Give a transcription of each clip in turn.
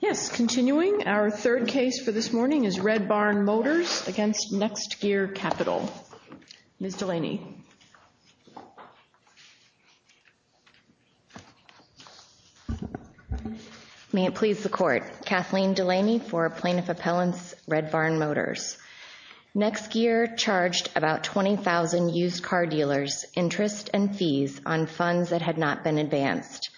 Yes, continuing our third case for this morning is Red Barn Motors v. NextGear Capital. Ms. Delaney. May it please the Court. Kathleen Delaney for Plaintiff Appellants, Red Barn Motors. NextGear charged about 20,000 used car dealers interest and fees on funds that had not been advanced.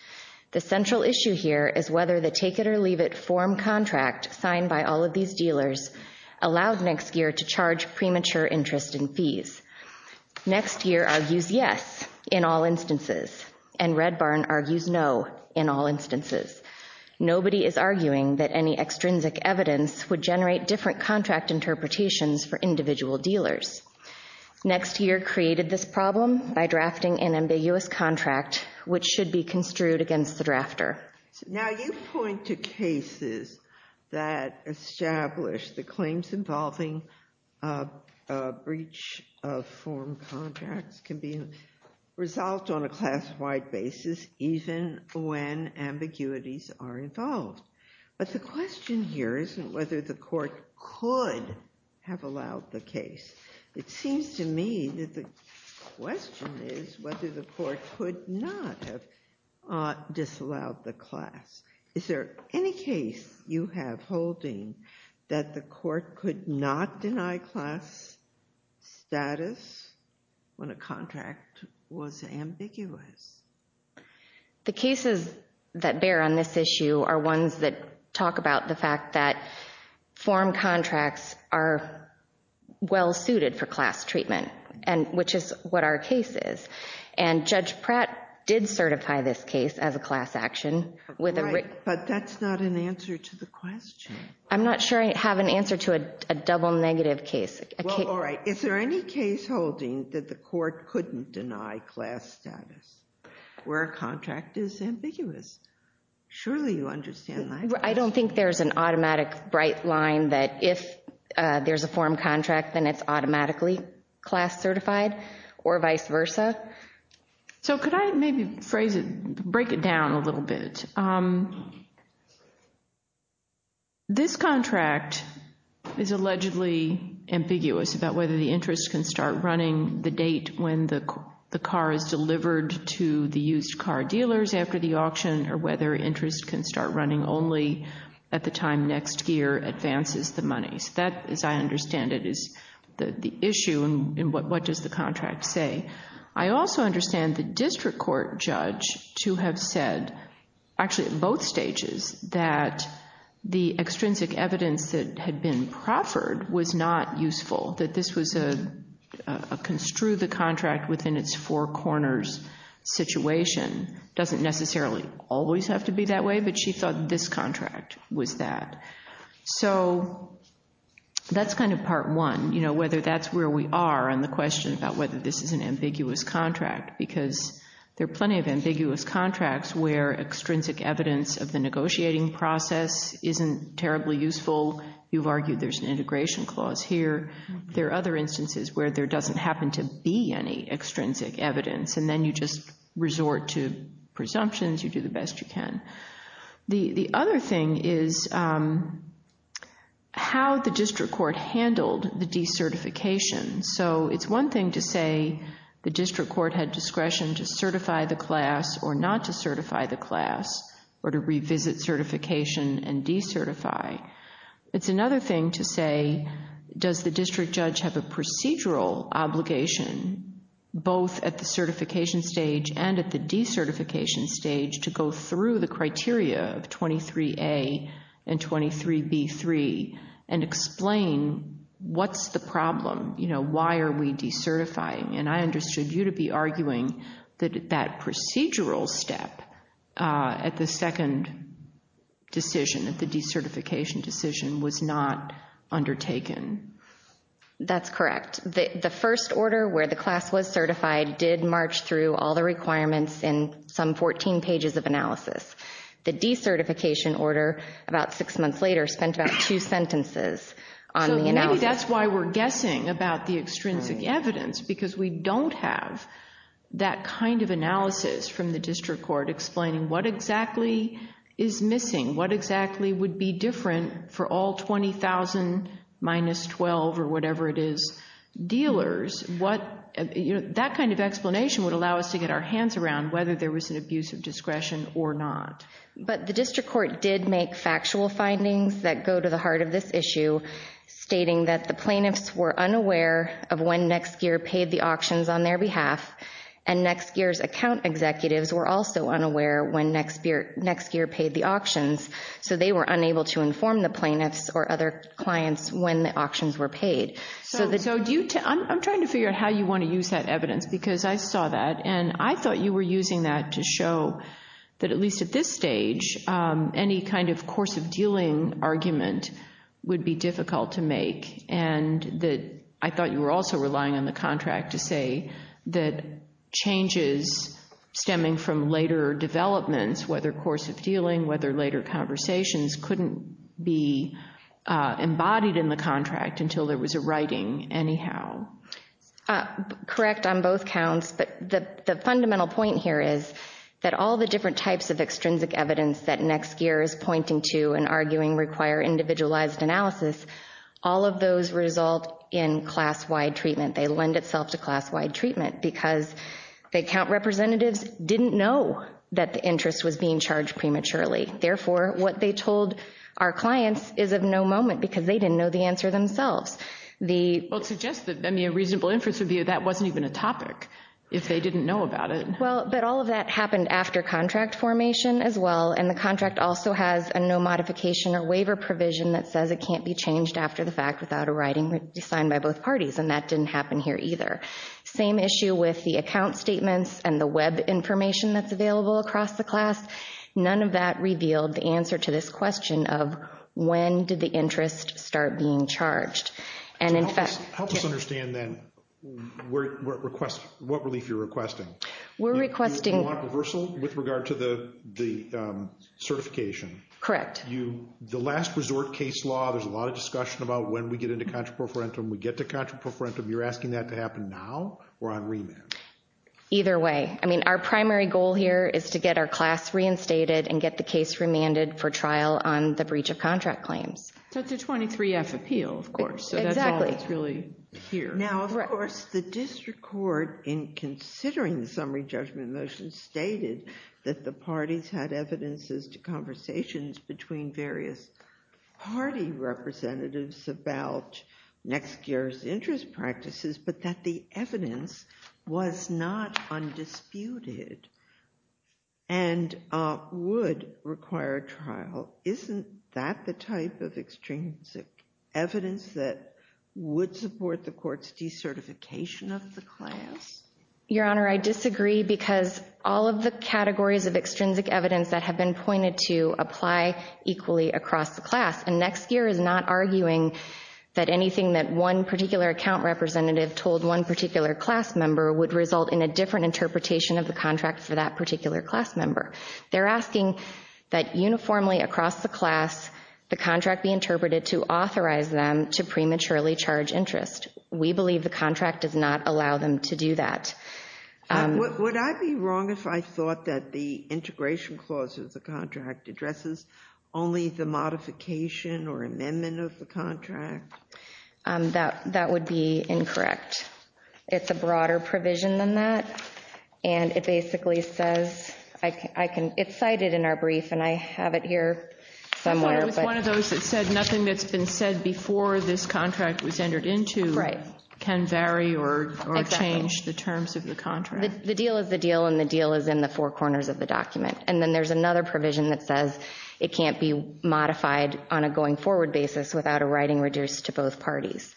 The central issue here is whether the take-it-or-leave-it form contract signed by all of these dealers allowed NextGear to charge premature interest and fees. NextGear argues yes in all instances, and Red Barn argues no in all instances. Nobody is arguing that any extrinsic evidence would NextGear created this problem by drafting an ambiguous contract, which should be construed against the drafter. Now you point to cases that establish the claims involving a breach of form contracts can be resolved on a class-wide basis even when ambiguities are involved. But the question here isn't whether the case, it seems to me that the question is whether the court could not have disallowed the class. Is there any case you have holding that the court could not deny class status when a contract was ambiguous? The cases that bear on this issue are ones that talk about the fact that form contracts are well-suited for class treatment, which is what our case is. And Judge Pratt did certify this case as a class action. Right, but that's not an answer to the question. I'm not sure I have an answer to a double negative case. All right, is there any case holding that the court couldn't deny class status where a contract is ambiguous? Surely you understand that. I don't think there's an automatic bright line that if there's a form contract, then it's automatically class certified or vice versa. So could I maybe phrase it, break it down a little bit? This contract is allegedly ambiguous about whether the interest can start running the date when the car is delivered to the used car dealers after the auction or whether interest can start running only at the time next year advances the money. That, as I understand it, is the issue and what does the contract say? I also understand the district court judge to have said, actually at both stages, that the extrinsic evidence that had been proffered was not useful, that this was a construe the contract within its four corners situation. It doesn't necessarily always have to be that way, but she thought this contract was that. So that's kind of part one, whether that's where we are on the question about whether this is an ambiguous contract, because there are plenty of ambiguous contracts where extrinsic evidence of the negotiating process isn't terribly useful. You've argued there's an integration clause here. There are other instances where there doesn't happen to be any extrinsic evidence, and then you just resort to presumptions. You do the best you can. The other thing is how the district court handled the decertification. So it's one thing to say the district court had discretion to certify the class or not to certify the class or to revisit certification and decertify. It's another thing to say, does the district judge have a procedural obligation, both at the certification stage and at the decertification stage, to go through the criteria of 23A and 23B-3 and explain what's the problem? You know, why are we decertifying? And I understood you to be arguing that that procedural step at the second decision, at the decertification decision, was not undertaken. That's correct. The first order where the class was certified did march through all the requirements in some 14 pages of analysis. The decertification order, about six months later, spent about two sentences on the analysis. So maybe that's why we're guessing about the extrinsic evidence, because we don't have that kind of analysis from the district court explaining what exactly is missing, what exactly would be different for all 20,000 minus 12, or whatever it is, dealers. That kind of explanation would allow us to get our hands around whether there was an abuse of discretion or not. But the district court did make factual findings that go to the heart of this issue, stating that the plaintiffs were unaware of when Nexgear paid the auctions on their behalf, and Nexgear's account executives were also unaware when Nexgear paid the auctions, so they were unable to inform the plaintiffs or other clients when the auctions were paid. So I'm trying to figure out how you want to use that evidence, because I saw that, and I thought you were using that to show that, at least at this stage, any kind of course of dealing argument would be difficult to make, and that I thought you were also relying on the contract to say that changes stemming from later developments, whether course of dealing, whether later conversations, couldn't be embodied in the contract until there was a writing anyhow. Correct on both counts, but the fundamental point here is that all the different types of extrinsic evidence that Nexgear is pointing to and arguing require individualized analysis, all of those result in class-wide treatment. They lend itself to class-wide treatment, because the account representatives didn't know that the interest was being charged prematurely. Therefore, what they told our clients is of no moment, because they didn't know the answer themselves. Well, it suggests that, I mean, a reasonable inference would be that that wasn't even a topic, if they didn't know about it. Well, but all of that happened after contract formation as well, and the contract also has a no modification or waiver provision that says it can't be changed after the fact without a writing signed by both parties, and that didn't happen here either. Same issue with the account statements and the web information that's available across the class. None of that revealed the answer to this question of when did the interest start being charged. Help us understand, then, what relief you're requesting. We're requesting— Do you want a reversal with regard to the certification? Correct. The last resort case law, there's a lot of discussion about when we get into contra pro forentum. We get to contra pro forentum. You're asking that to happen now or on remand? Either way. I mean, our primary goal here is to get our class reinstated and get the case remanded for trial on the breach of contract claims. So it's a 23-F appeal, of course. Exactly. So that's all that's really here. Now, of course, the district court, in considering the summary judgment motion, stated that the parties had evidences to conversations between various party representatives about next year's interest practices, but that the evidence was not undisputed and would require a trial. Isn't that the type of extrinsic evidence that would support the court's decertification of the class? Your Honor, I disagree because all of the categories of extrinsic evidence that have been pointed to apply equally across the class. And next year is not arguing that anything that one particular account representative told one particular class member would result in a different interpretation of the contract for that particular class member. They're asking that uniformly across the class, the contract be interpreted to authorize them to prematurely charge interest. We believe the contract does not allow them to do that. Would I be wrong if I thought that the integration clause of the contract addresses only the modification or amendment of the contract? That would be incorrect. It's a broader provision than that. And it basically says, it's cited in our brief, and I have it here somewhere. I thought it was one of those that said nothing that's been said before this contract was entered into can vary or change the terms of the contract. The deal is the deal, and the deal is in the four corners of the document. And then there's another provision that says it can't be modified on a going forward basis without a writing reduced to both parties.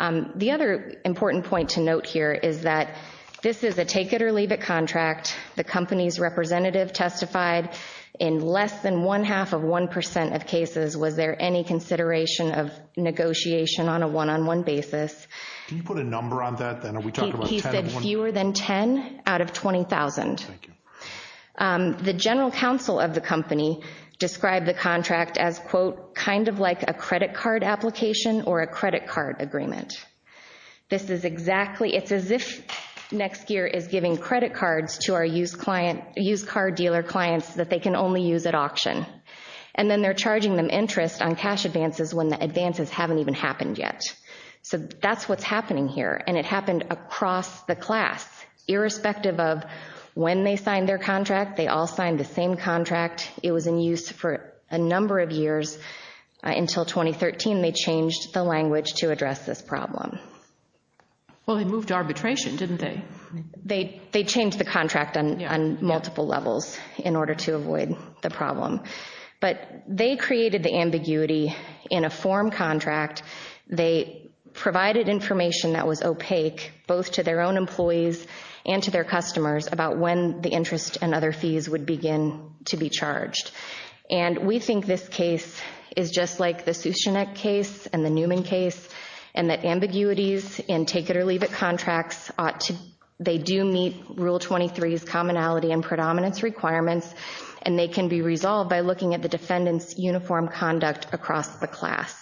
The other important point to note here is that this is a take-it-or-leave-it contract. The company's representative testified in less than one-half of 1% of cases, was there any consideration of negotiation on a one-on-one basis? Can you put a number on that? He said fewer than 10 out of 20,000. Thank you. The general counsel of the company described the contract as, quote, kind of like a credit card application or a credit card agreement. It's as if NextGear is giving credit cards to our used car dealer clients that they can only use at auction. And then they're charging them interest on cash advances when the advances haven't even happened yet. So that's what's happening here, and it happened across the class. Irrespective of when they signed their contract, they all signed the same contract. It was in use for a number of years until 2013. They changed the language to address this problem. Well, they moved arbitration, didn't they? They changed the contract on multiple levels in order to avoid the problem. But they created the ambiguity in a form contract. They provided information that was opaque both to their own employees and to their customers about when the interest and other fees would begin to be charged. And we think this case is just like the Sushinet case and the Newman case, and that ambiguities in take-it-or-leave-it contracts ought to – they do meet Rule 23's commonality and predominance requirements, and they can be resolved by looking at the defendant's uniform conduct across the class.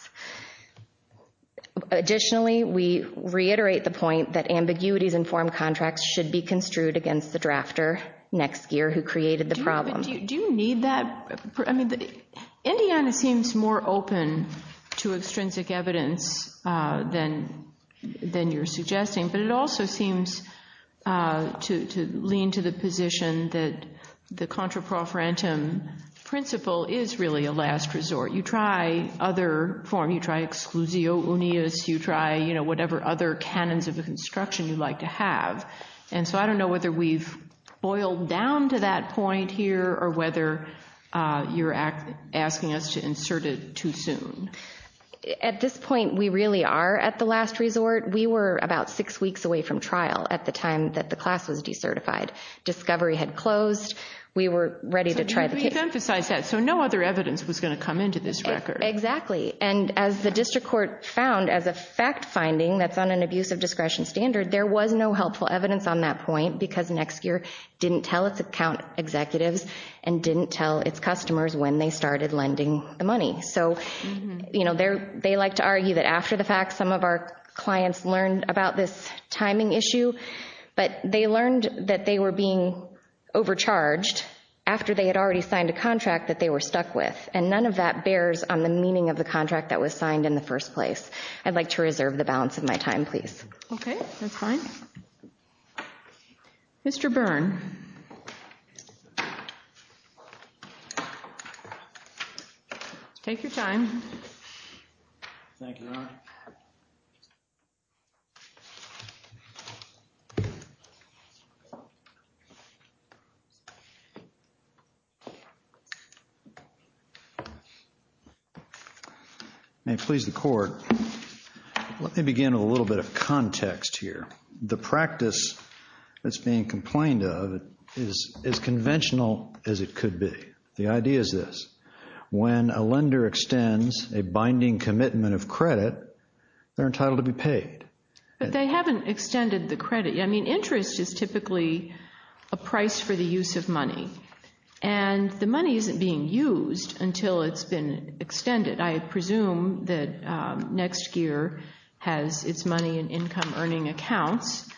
Additionally, we reiterate the point that ambiguities in form contracts should be construed against the drafter next year who created the problem. Do you need that? I mean, Indiana seems more open to extrinsic evidence than you're suggesting, but it also seems to lean to the position that the contraprofrantum principle is really a last resort. You try other form. You try exclusio unius. You try whatever other canons of construction you'd like to have. And so I don't know whether we've boiled down to that point here or whether you're asking us to insert it too soon. At this point, we really are at the last resort. We were about six weeks away from trial at the time that the class was decertified. Discovery had closed. We were ready to try the case. You've emphasized that, so no other evidence was going to come into this record. Exactly, and as the district court found as a fact finding that's on an abuse of discretion standard, there was no helpful evidence on that point because NextGear didn't tell its account executives and didn't tell its customers when they started lending the money. So they like to argue that after the fact, some of our clients learned about this timing issue, but they learned that they were being overcharged after they had already signed a contract that they were stuck with, and none of that bears on the meaning of the contract that was signed in the first place. I'd like to reserve the balance of my time, please. Okay, that's fine. Mr. Byrne. Take your time. Thank you, Your Honor. May it please the Court, let me begin with a little bit of context here. The practice that's being complained of is as conventional as it could be. The idea is this, when a lender extends a binding commitment of credit, they're entitled to be paid. But they haven't extended the credit. I mean, interest is typically a price for the use of money, and the money isn't being used until it's been extended. I presume that NextGear has its money in income-earning accounts,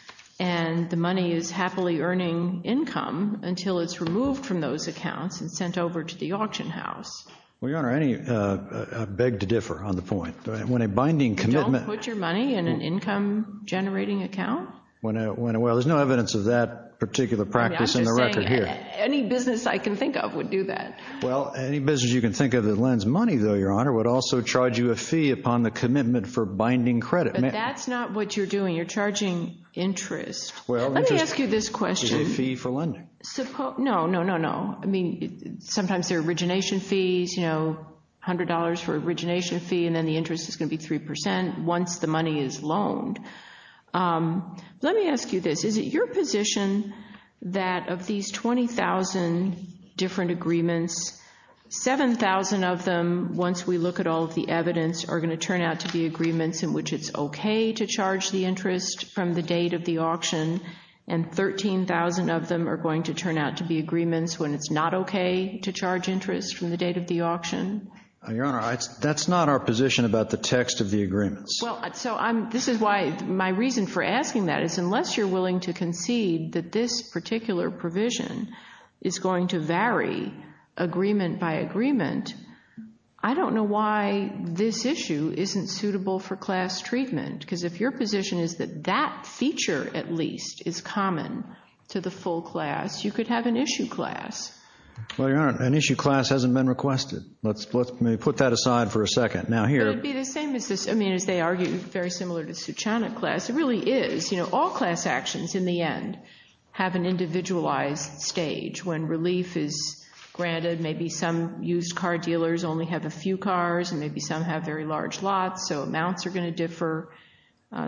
and the money is happily earning income until it's removed from those accounts and sent over to the auction house. Well, Your Honor, I beg to differ on the point. Don't put your money in an income-generating account? Well, there's no evidence of that particular practice in the record here. Any business I can think of would do that. Well, any business you can think of that lends money, though, Your Honor, would also charge you a fee upon the commitment for binding credit. But that's not what you're doing. You're charging interest. Let me ask you this question. It's a fee for lending. No, no, no, no. I mean, sometimes they're origination fees, you know, $100 for origination fee, and then the interest is going to be 3% once the money is loaned. Let me ask you this. Is it your position that of these 20,000 different agreements, 7,000 of them, once we look at all of the evidence, are going to turn out to be agreements in which it's okay to charge the interest from the date of the auction, and 13,000 of them are going to turn out to be agreements when it's not okay to charge interest from the date of the auction? Your Honor, that's not our position about the text of the agreements. Well, this is why my reason for asking that is unless you're willing to concede that this particular provision is going to vary agreement by agreement, I don't know why this issue isn't suitable for class treatment. Because if your position is that that feature at least is common to the full class, you could have an issue class. Well, Your Honor, an issue class hasn't been requested. Let me put that aside for a second. Now here. It would be the same as this, I mean, as they argue, very similar to Suchanuk class. It really is. You know, all class actions in the end have an individualized stage. When relief is granted, maybe some used car dealers only have a few cars and maybe some have very large lots, so amounts are going to differ.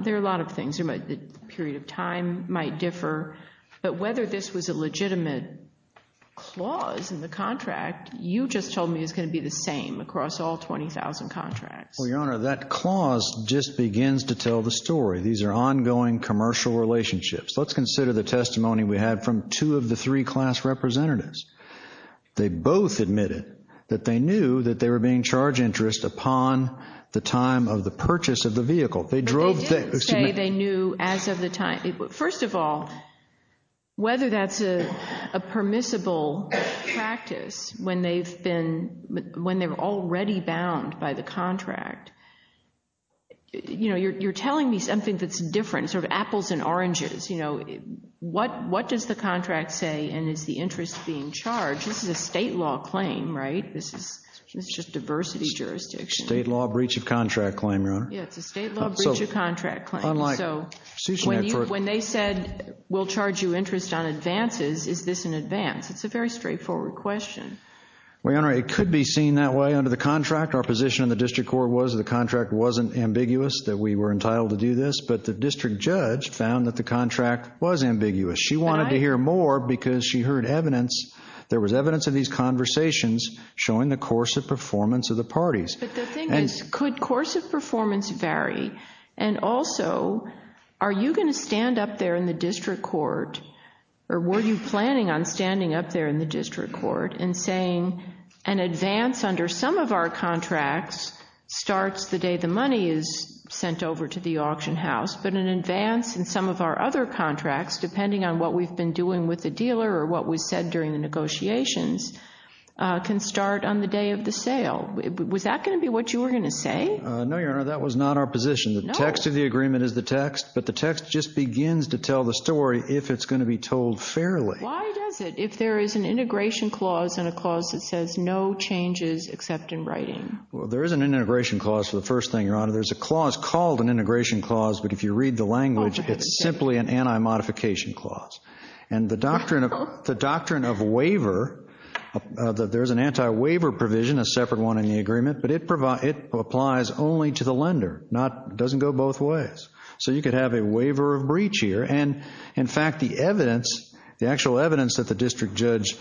There are a lot of things. The period of time might differ. But whether this was a legitimate clause in the contract, you just told me it's going to be the same across all 20,000 contracts. Well, Your Honor, that clause just begins to tell the story. These are ongoing commercial relationships. Let's consider the testimony we had from two of the three class representatives. They both admitted that they knew that they were being charged interest upon the time of the purchase of the vehicle. But they didn't say they knew as of the time. First of all, whether that's a permissible practice when they've been, when they were already bound by the contract, you know, you're telling me something that's different, sort of apples and oranges. You know, what does the contract say and is the interest being charged? This is a state law claim, right? This is just diversity jurisdiction. State law breach of contract claim, Your Honor. Yeah, it's a state law breach of contract claim. So when they said we'll charge you interest on advances, is this an advance? It's a very straightforward question. Well, Your Honor, it could be seen that way under the contract. Our position in the district court was the contract wasn't ambiguous, that we were entitled to do this. But the district judge found that the contract was ambiguous. She wanted to hear more because she heard evidence. There was evidence of these conversations showing the course of performance of the parties. But the thing is, could course of performance vary? And also, are you going to stand up there in the district court, or were you planning on standing up there in the district court and saying an advance under some of our contracts starts the day the money is sent over to the auction house, but an advance in some of our other contracts, depending on what we've been doing with the dealer or what was said during the negotiations, can start on the day of the sale? Was that going to be what you were going to say? No, Your Honor, that was not our position. The text of the agreement is the text, but the text just begins to tell the story if it's going to be told fairly. Why does it, if there is an integration clause and a clause that says no changes except in writing? Well, there is an integration clause for the first thing, Your Honor. There's a clause called an integration clause, but if you read the language, it's simply an anti-modification clause. And the doctrine of waiver, there's an anti-waiver provision, a separate one in the agreement, but it applies only to the lender. It doesn't go both ways. So you could have a waiver of breach here. And, in fact, the evidence, the actual evidence that the district judge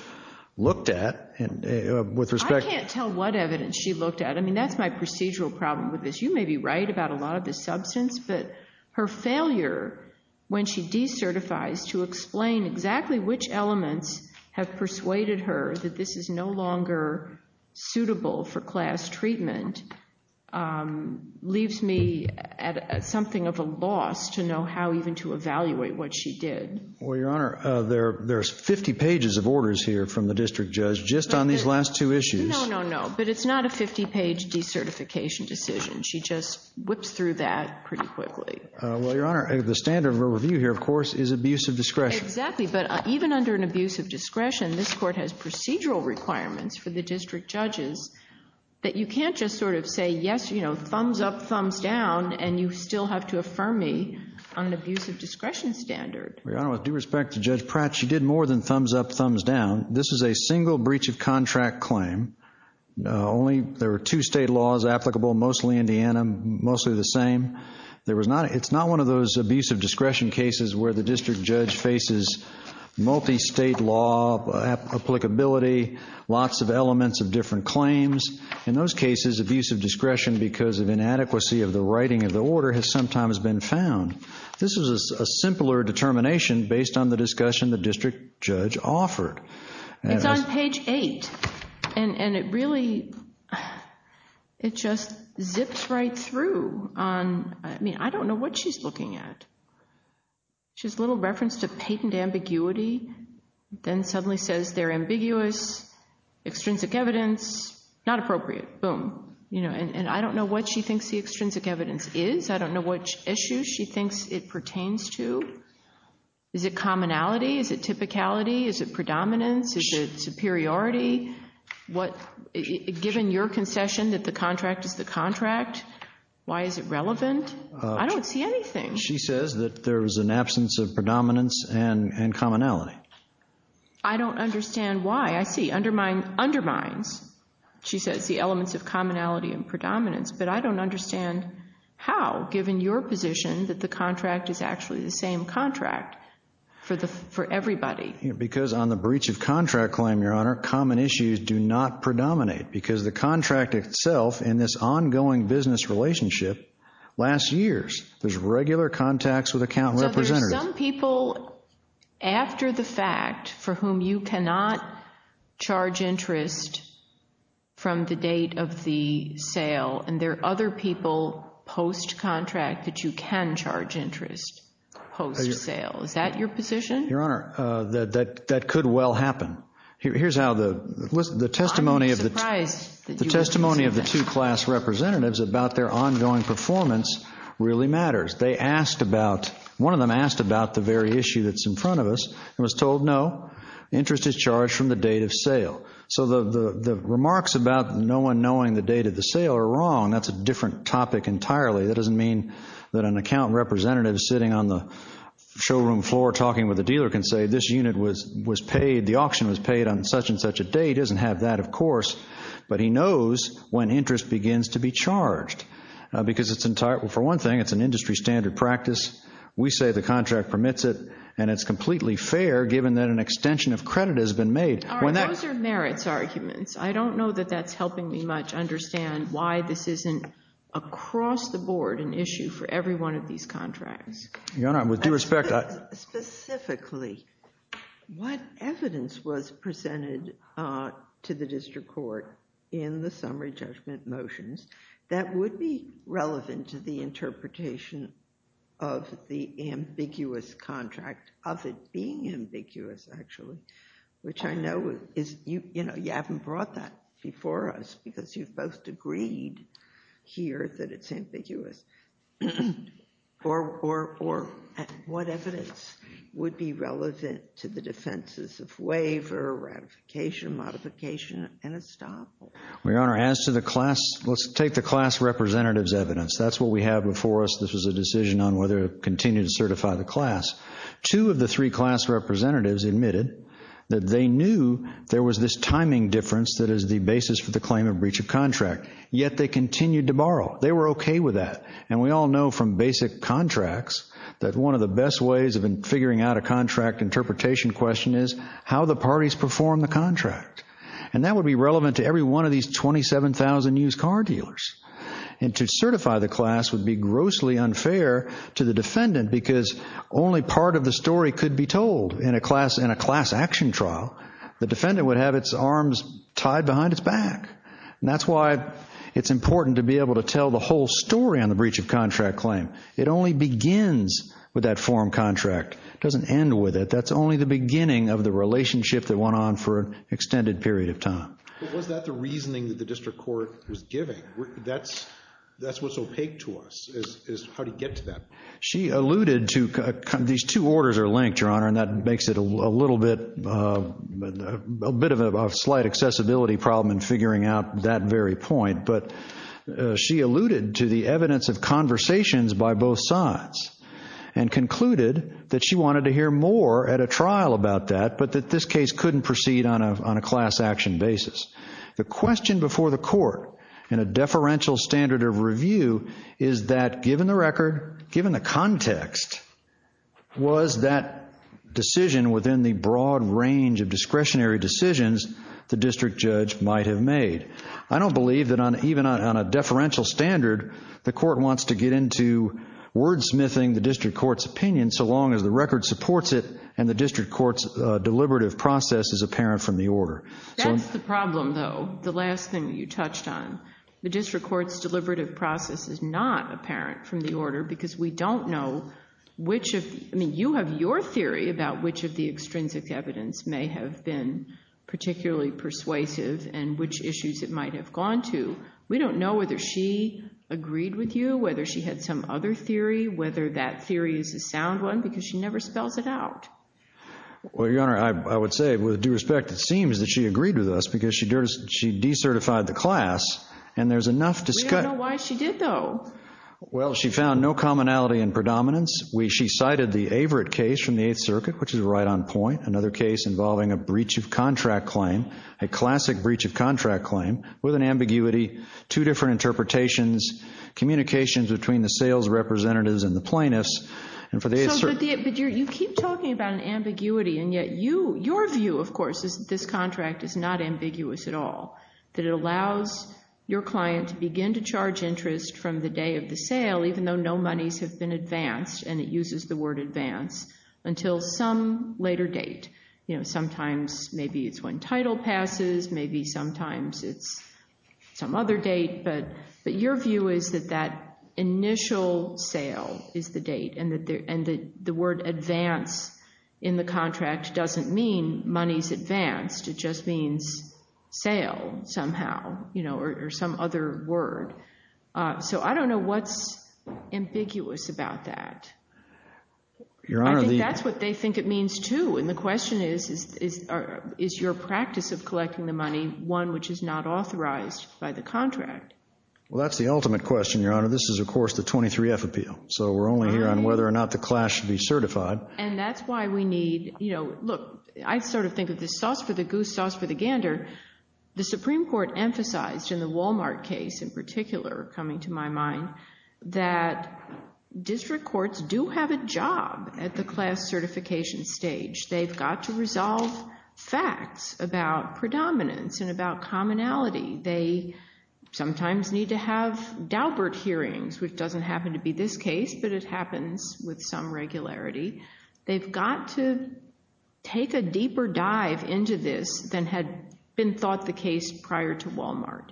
looked at, with respect to— I can't tell what evidence she looked at. I mean, that's my procedural problem with this. You may be right about a lot of this substance, but her failure when she decertifies to explain exactly which elements have persuaded her that this is no longer suitable for class treatment leaves me at something of a loss to know how even to evaluate what she did. Well, Your Honor, there's 50 pages of orders here from the district judge just on these last two issues. No, no, no, but it's not a 50-page decertification decision. She just whips through that pretty quickly. Well, Your Honor, the standard of review here, of course, is abuse of discretion. Exactly, but even under an abuse of discretion, this Court has procedural requirements for the district judges that you can't just sort of say, yes, you know, thumbs up, thumbs down, and you still have to affirm me on an abuse of discretion standard. Your Honor, with due respect to Judge Pratt, she did more than thumbs up, thumbs down. This is a single breach of contract claim. There were two state laws applicable, mostly Indiana, mostly the same. It's not one of those abuse of discretion cases where the district judge faces multi-state law applicability, lots of elements of different claims. In those cases, abuse of discretion because of inadequacy of the writing of the order has sometimes been found. This was a simpler determination based on the discussion the district judge offered. It's on page 8, and it really just zips right through. I mean, I don't know what she's looking at. She has a little reference to patent ambiguity, then suddenly says they're ambiguous, extrinsic evidence, not appropriate. Boom. And I don't know what she thinks the extrinsic evidence is. I don't know which issue she thinks it pertains to. Is it commonality? Is it typicality? Is it predominance? Is it superiority? Given your concession that the contract is the contract, why is it relevant? I don't see anything. She says that there is an absence of predominance and commonality. I don't understand why. I see undermines, she says, the elements of commonality and predominance, but I don't understand how, given your position, that the contract is actually the same contract for everybody. Because on the breach of contract claim, Your Honor, common issues do not predominate because the contract itself in this ongoing business relationship, last year's, there's regular contacts with account representatives. So there's some people after the fact for whom you cannot charge interest from the date of the sale, and there are other people post-contract that you can charge interest post-sale. Is that your position? Your Honor, that could well happen. Here's how the testimony of the two class representatives about their ongoing performance really matters. They asked about, one of them asked about the very issue that's in front of us and was told no, interest is charged from the date of sale. So the remarks about no one knowing the date of the sale are wrong. That's a different topic entirely. That doesn't mean that an account representative sitting on the showroom floor talking with a dealer can say this unit was paid, the auction was paid on such and such a date. He doesn't have that, of course. But he knows when interest begins to be charged because it's entirely, for one thing, it's an industry standard practice. We say the contract permits it, and it's completely fair given that an extension of credit has been made. Those are merits arguments. I don't know that that's helping me much understand why this isn't across the board an issue for every one of these contracts. Your Honor, with due respect, I in the summary judgment motions that would be relevant to the interpretation of the ambiguous contract, of it being ambiguous, actually, which I know is, you know, you haven't brought that before us because you've both agreed here that it's ambiguous. Or what evidence would be relevant to the defenses of waiver, ratification, modification, and estoppel? Your Honor, as to the class, let's take the class representative's evidence. That's what we have before us. This was a decision on whether to continue to certify the class. Two of the three class representatives admitted that they knew there was this timing difference that is the basis for the claim of breach of contract, yet they continued to borrow. They were okay with that, and we all know from basic contracts that one of the best ways of figuring out a contract interpretation question is how the parties perform the contract. And that would be relevant to every one of these 27,000 used car dealers. And to certify the class would be grossly unfair to the defendant because only part of the story could be told in a class action trial. The defendant would have its arms tied behind its back. And that's why it's important to be able to tell the whole story on the breach of contract claim. It only begins with that form contract. It doesn't end with it. That's only the beginning of the relationship that went on for an extended period of time. But was that the reasoning that the district court was giving? That's what's opaque to us is how to get to that. She alluded to these two orders are linked, Your Honor, and that makes it a little bit of a slight accessibility problem in figuring out that very point. But she alluded to the evidence of conversations by both sides and concluded that she wanted to hear more at a trial about that but that this case couldn't proceed on a class action basis. The question before the court in a deferential standard of review is that, given the record, given the context, was that decision within the broad range of discretionary decisions the district judge might have made? I don't believe that even on a deferential standard, the court wants to get into wordsmithing the district court's opinion so long as the record supports it and the district court's deliberative process is apparent from the order. That's the problem, though, the last thing you touched on. The district court's deliberative process is not apparent from the order because we don't know which of the – I mean, you have your theory about which of the extrinsic evidence may have been particularly persuasive and which issues it might have gone to. We don't know whether she agreed with you, whether she had some other theory, whether that theory is a sound one because she never spells it out. Well, Your Honor, I would say, with due respect, it seems that she agreed with us because she decertified the class and there's enough – We don't know why she did, though. Well, she found no commonality in predominance. She cited the Averitt case from the Eighth Circuit, which is right on point, another case involving a breach of contract claim, a classic breach of contract claim, with an ambiguity, two different interpretations, communications between the sales representatives and the plaintiffs. But you keep talking about an ambiguity, and yet your view, of course, is that this contract is not ambiguous at all, that it allows your client to begin to charge interest from the day of the sale, even though no monies have been advanced, and it uses the word advance, until some later date. You know, sometimes maybe it's when title passes. Maybe sometimes it's some other date. But your view is that that initial sale is the date and the word advance in the contract doesn't mean monies advanced. It just means sale somehow, you know, or some other word. So I don't know what's ambiguous about that. I think that's what they think it means, too. And the question is, is your practice of collecting the money one which is not authorized by the contract? Well, that's the ultimate question, Your Honor. This is, of course, the 23-F appeal. So we're only here on whether or not the class should be certified. And that's why we need, you know, look, I sort of think of this sauce for the goose, sauce for the gander. The Supreme Court emphasized in the Walmart case in particular coming to my mind that district courts do have a job at the class certification stage. They've got to resolve facts about predominance and about commonality. They sometimes need to have daubert hearings, which doesn't happen to be this case, but it happens with some regularity. They've got to take a deeper dive into this than had been thought the case prior to Walmart.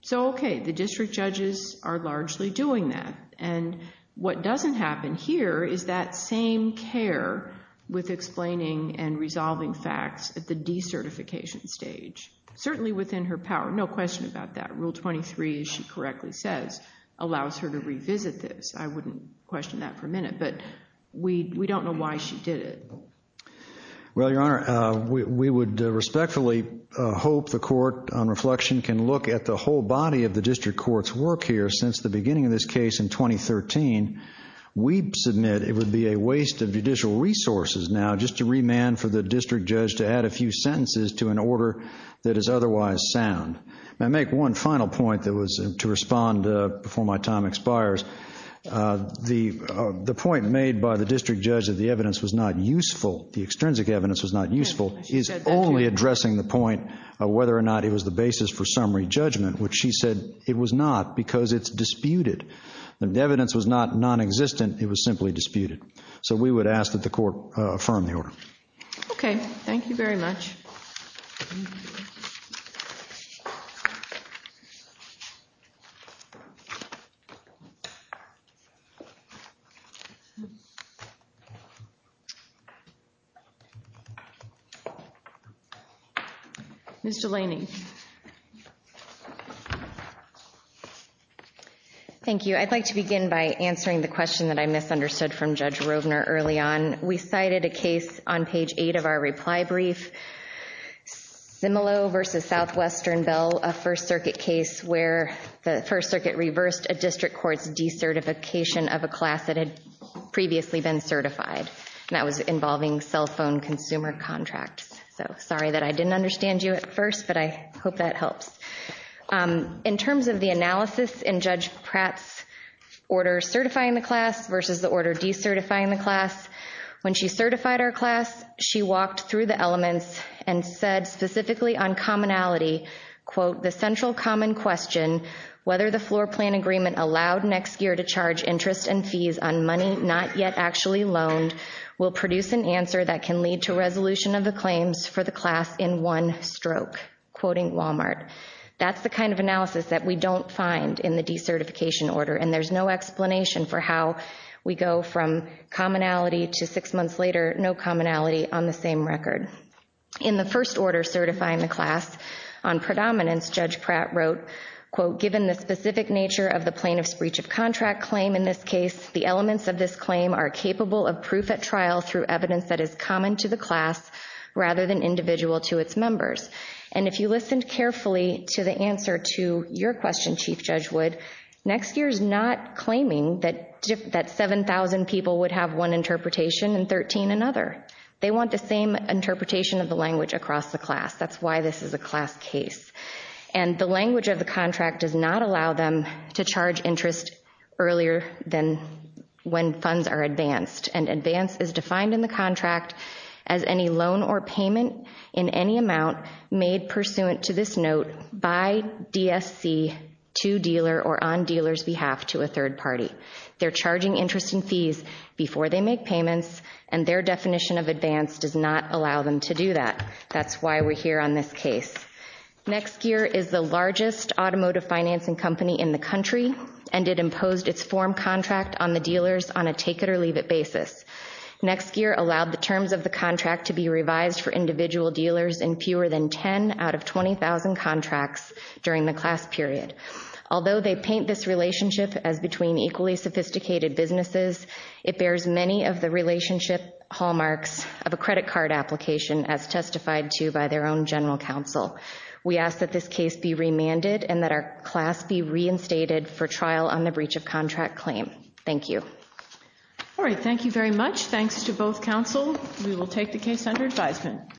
So, okay, the district judges are largely doing that. And what doesn't happen here is that same care with explaining and resolving facts at the decertification stage, certainly within her power. No question about that. Rule 23, as she correctly says, allows her to revisit this. I wouldn't question that for a minute, but we don't know why she did it. of the district court's work here since the beginning of this case in 2013, we submit it would be a waste of judicial resources now just to remand for the district judge to add a few sentences to an order that is otherwise sound. Now, make one final point that was to respond before my time expires. The point made by the district judge that the evidence was not useful, the extrinsic evidence was not useful, is only addressing the point of whether or not it was the basis for summary judgment, which she said it was not because it's disputed. The evidence was not nonexistent. It was simply disputed. So we would ask that the court affirm the order. Okay. Thank you very much. Ms. Delaney. Thank you. I'd like to begin by answering the question that I misunderstood from Judge Rovner early on. We cited a case on page 8 of our reply brief, Similo v. Southwestern Bell, a First Circuit case where the First Circuit reversed a district court's decertification of a class that had previously been certified, and that was involving cell phone consumer contracts. So sorry that I didn't understand you at first, but I hope that helps. In terms of the analysis in Judge Pratt's order certifying the class versus the order decertifying the class, when she certified our class, she walked through the elements and said specifically on commonality, quote, the central common question, whether the floor plan agreement allowed Nexgear to charge interest and fees on money not yet actually loaned will produce an answer that can lead to resolution of the claims for the class in one stroke, quoting Walmart. That's the kind of analysis that we don't find in the decertification order, and there's no explanation for how we go from commonality to six months later, no commonality on the same record. In the first order certifying the class on predominance, Judge Pratt wrote, quote, given the specific nature of the plaintiff's breach of contract claim in this case, the elements of this claim are capable of proof at trial through evidence that is common to the class rather than individual to its members. And if you listened carefully to the answer to your question, Chief Judge Wood, Nexgear is not claiming that 7,000 people would have one interpretation and 13 another. They want the same interpretation of the language across the class. That's why this is a class case. And the language of the contract does not allow them to charge interest earlier than when funds are advanced, and advance is defined in the contract as any loan or payment in any amount made pursuant to this note by DSC to dealer or on dealer's behalf to a third party. They're charging interest and fees before they make payments, and their definition of advance does not allow them to do that. That's why we're here on this case. Nexgear is the largest automotive financing company in the country, and it imposed its form contract on the dealers on a take-it-or-leave-it basis. Nexgear allowed the terms of the contract to be revised for individual dealers in fewer than 10 out of 20,000 contracts during the class period. Although they paint this relationship as between equally sophisticated businesses, it bears many of the relationship hallmarks of a credit card application as testified to by their own general counsel. We ask that this case be remanded and that our class be reinstated for trial on the breach of contract claim. Thank you. All right. Thank you very much. Thanks to both counsel. We will take the case under advisement.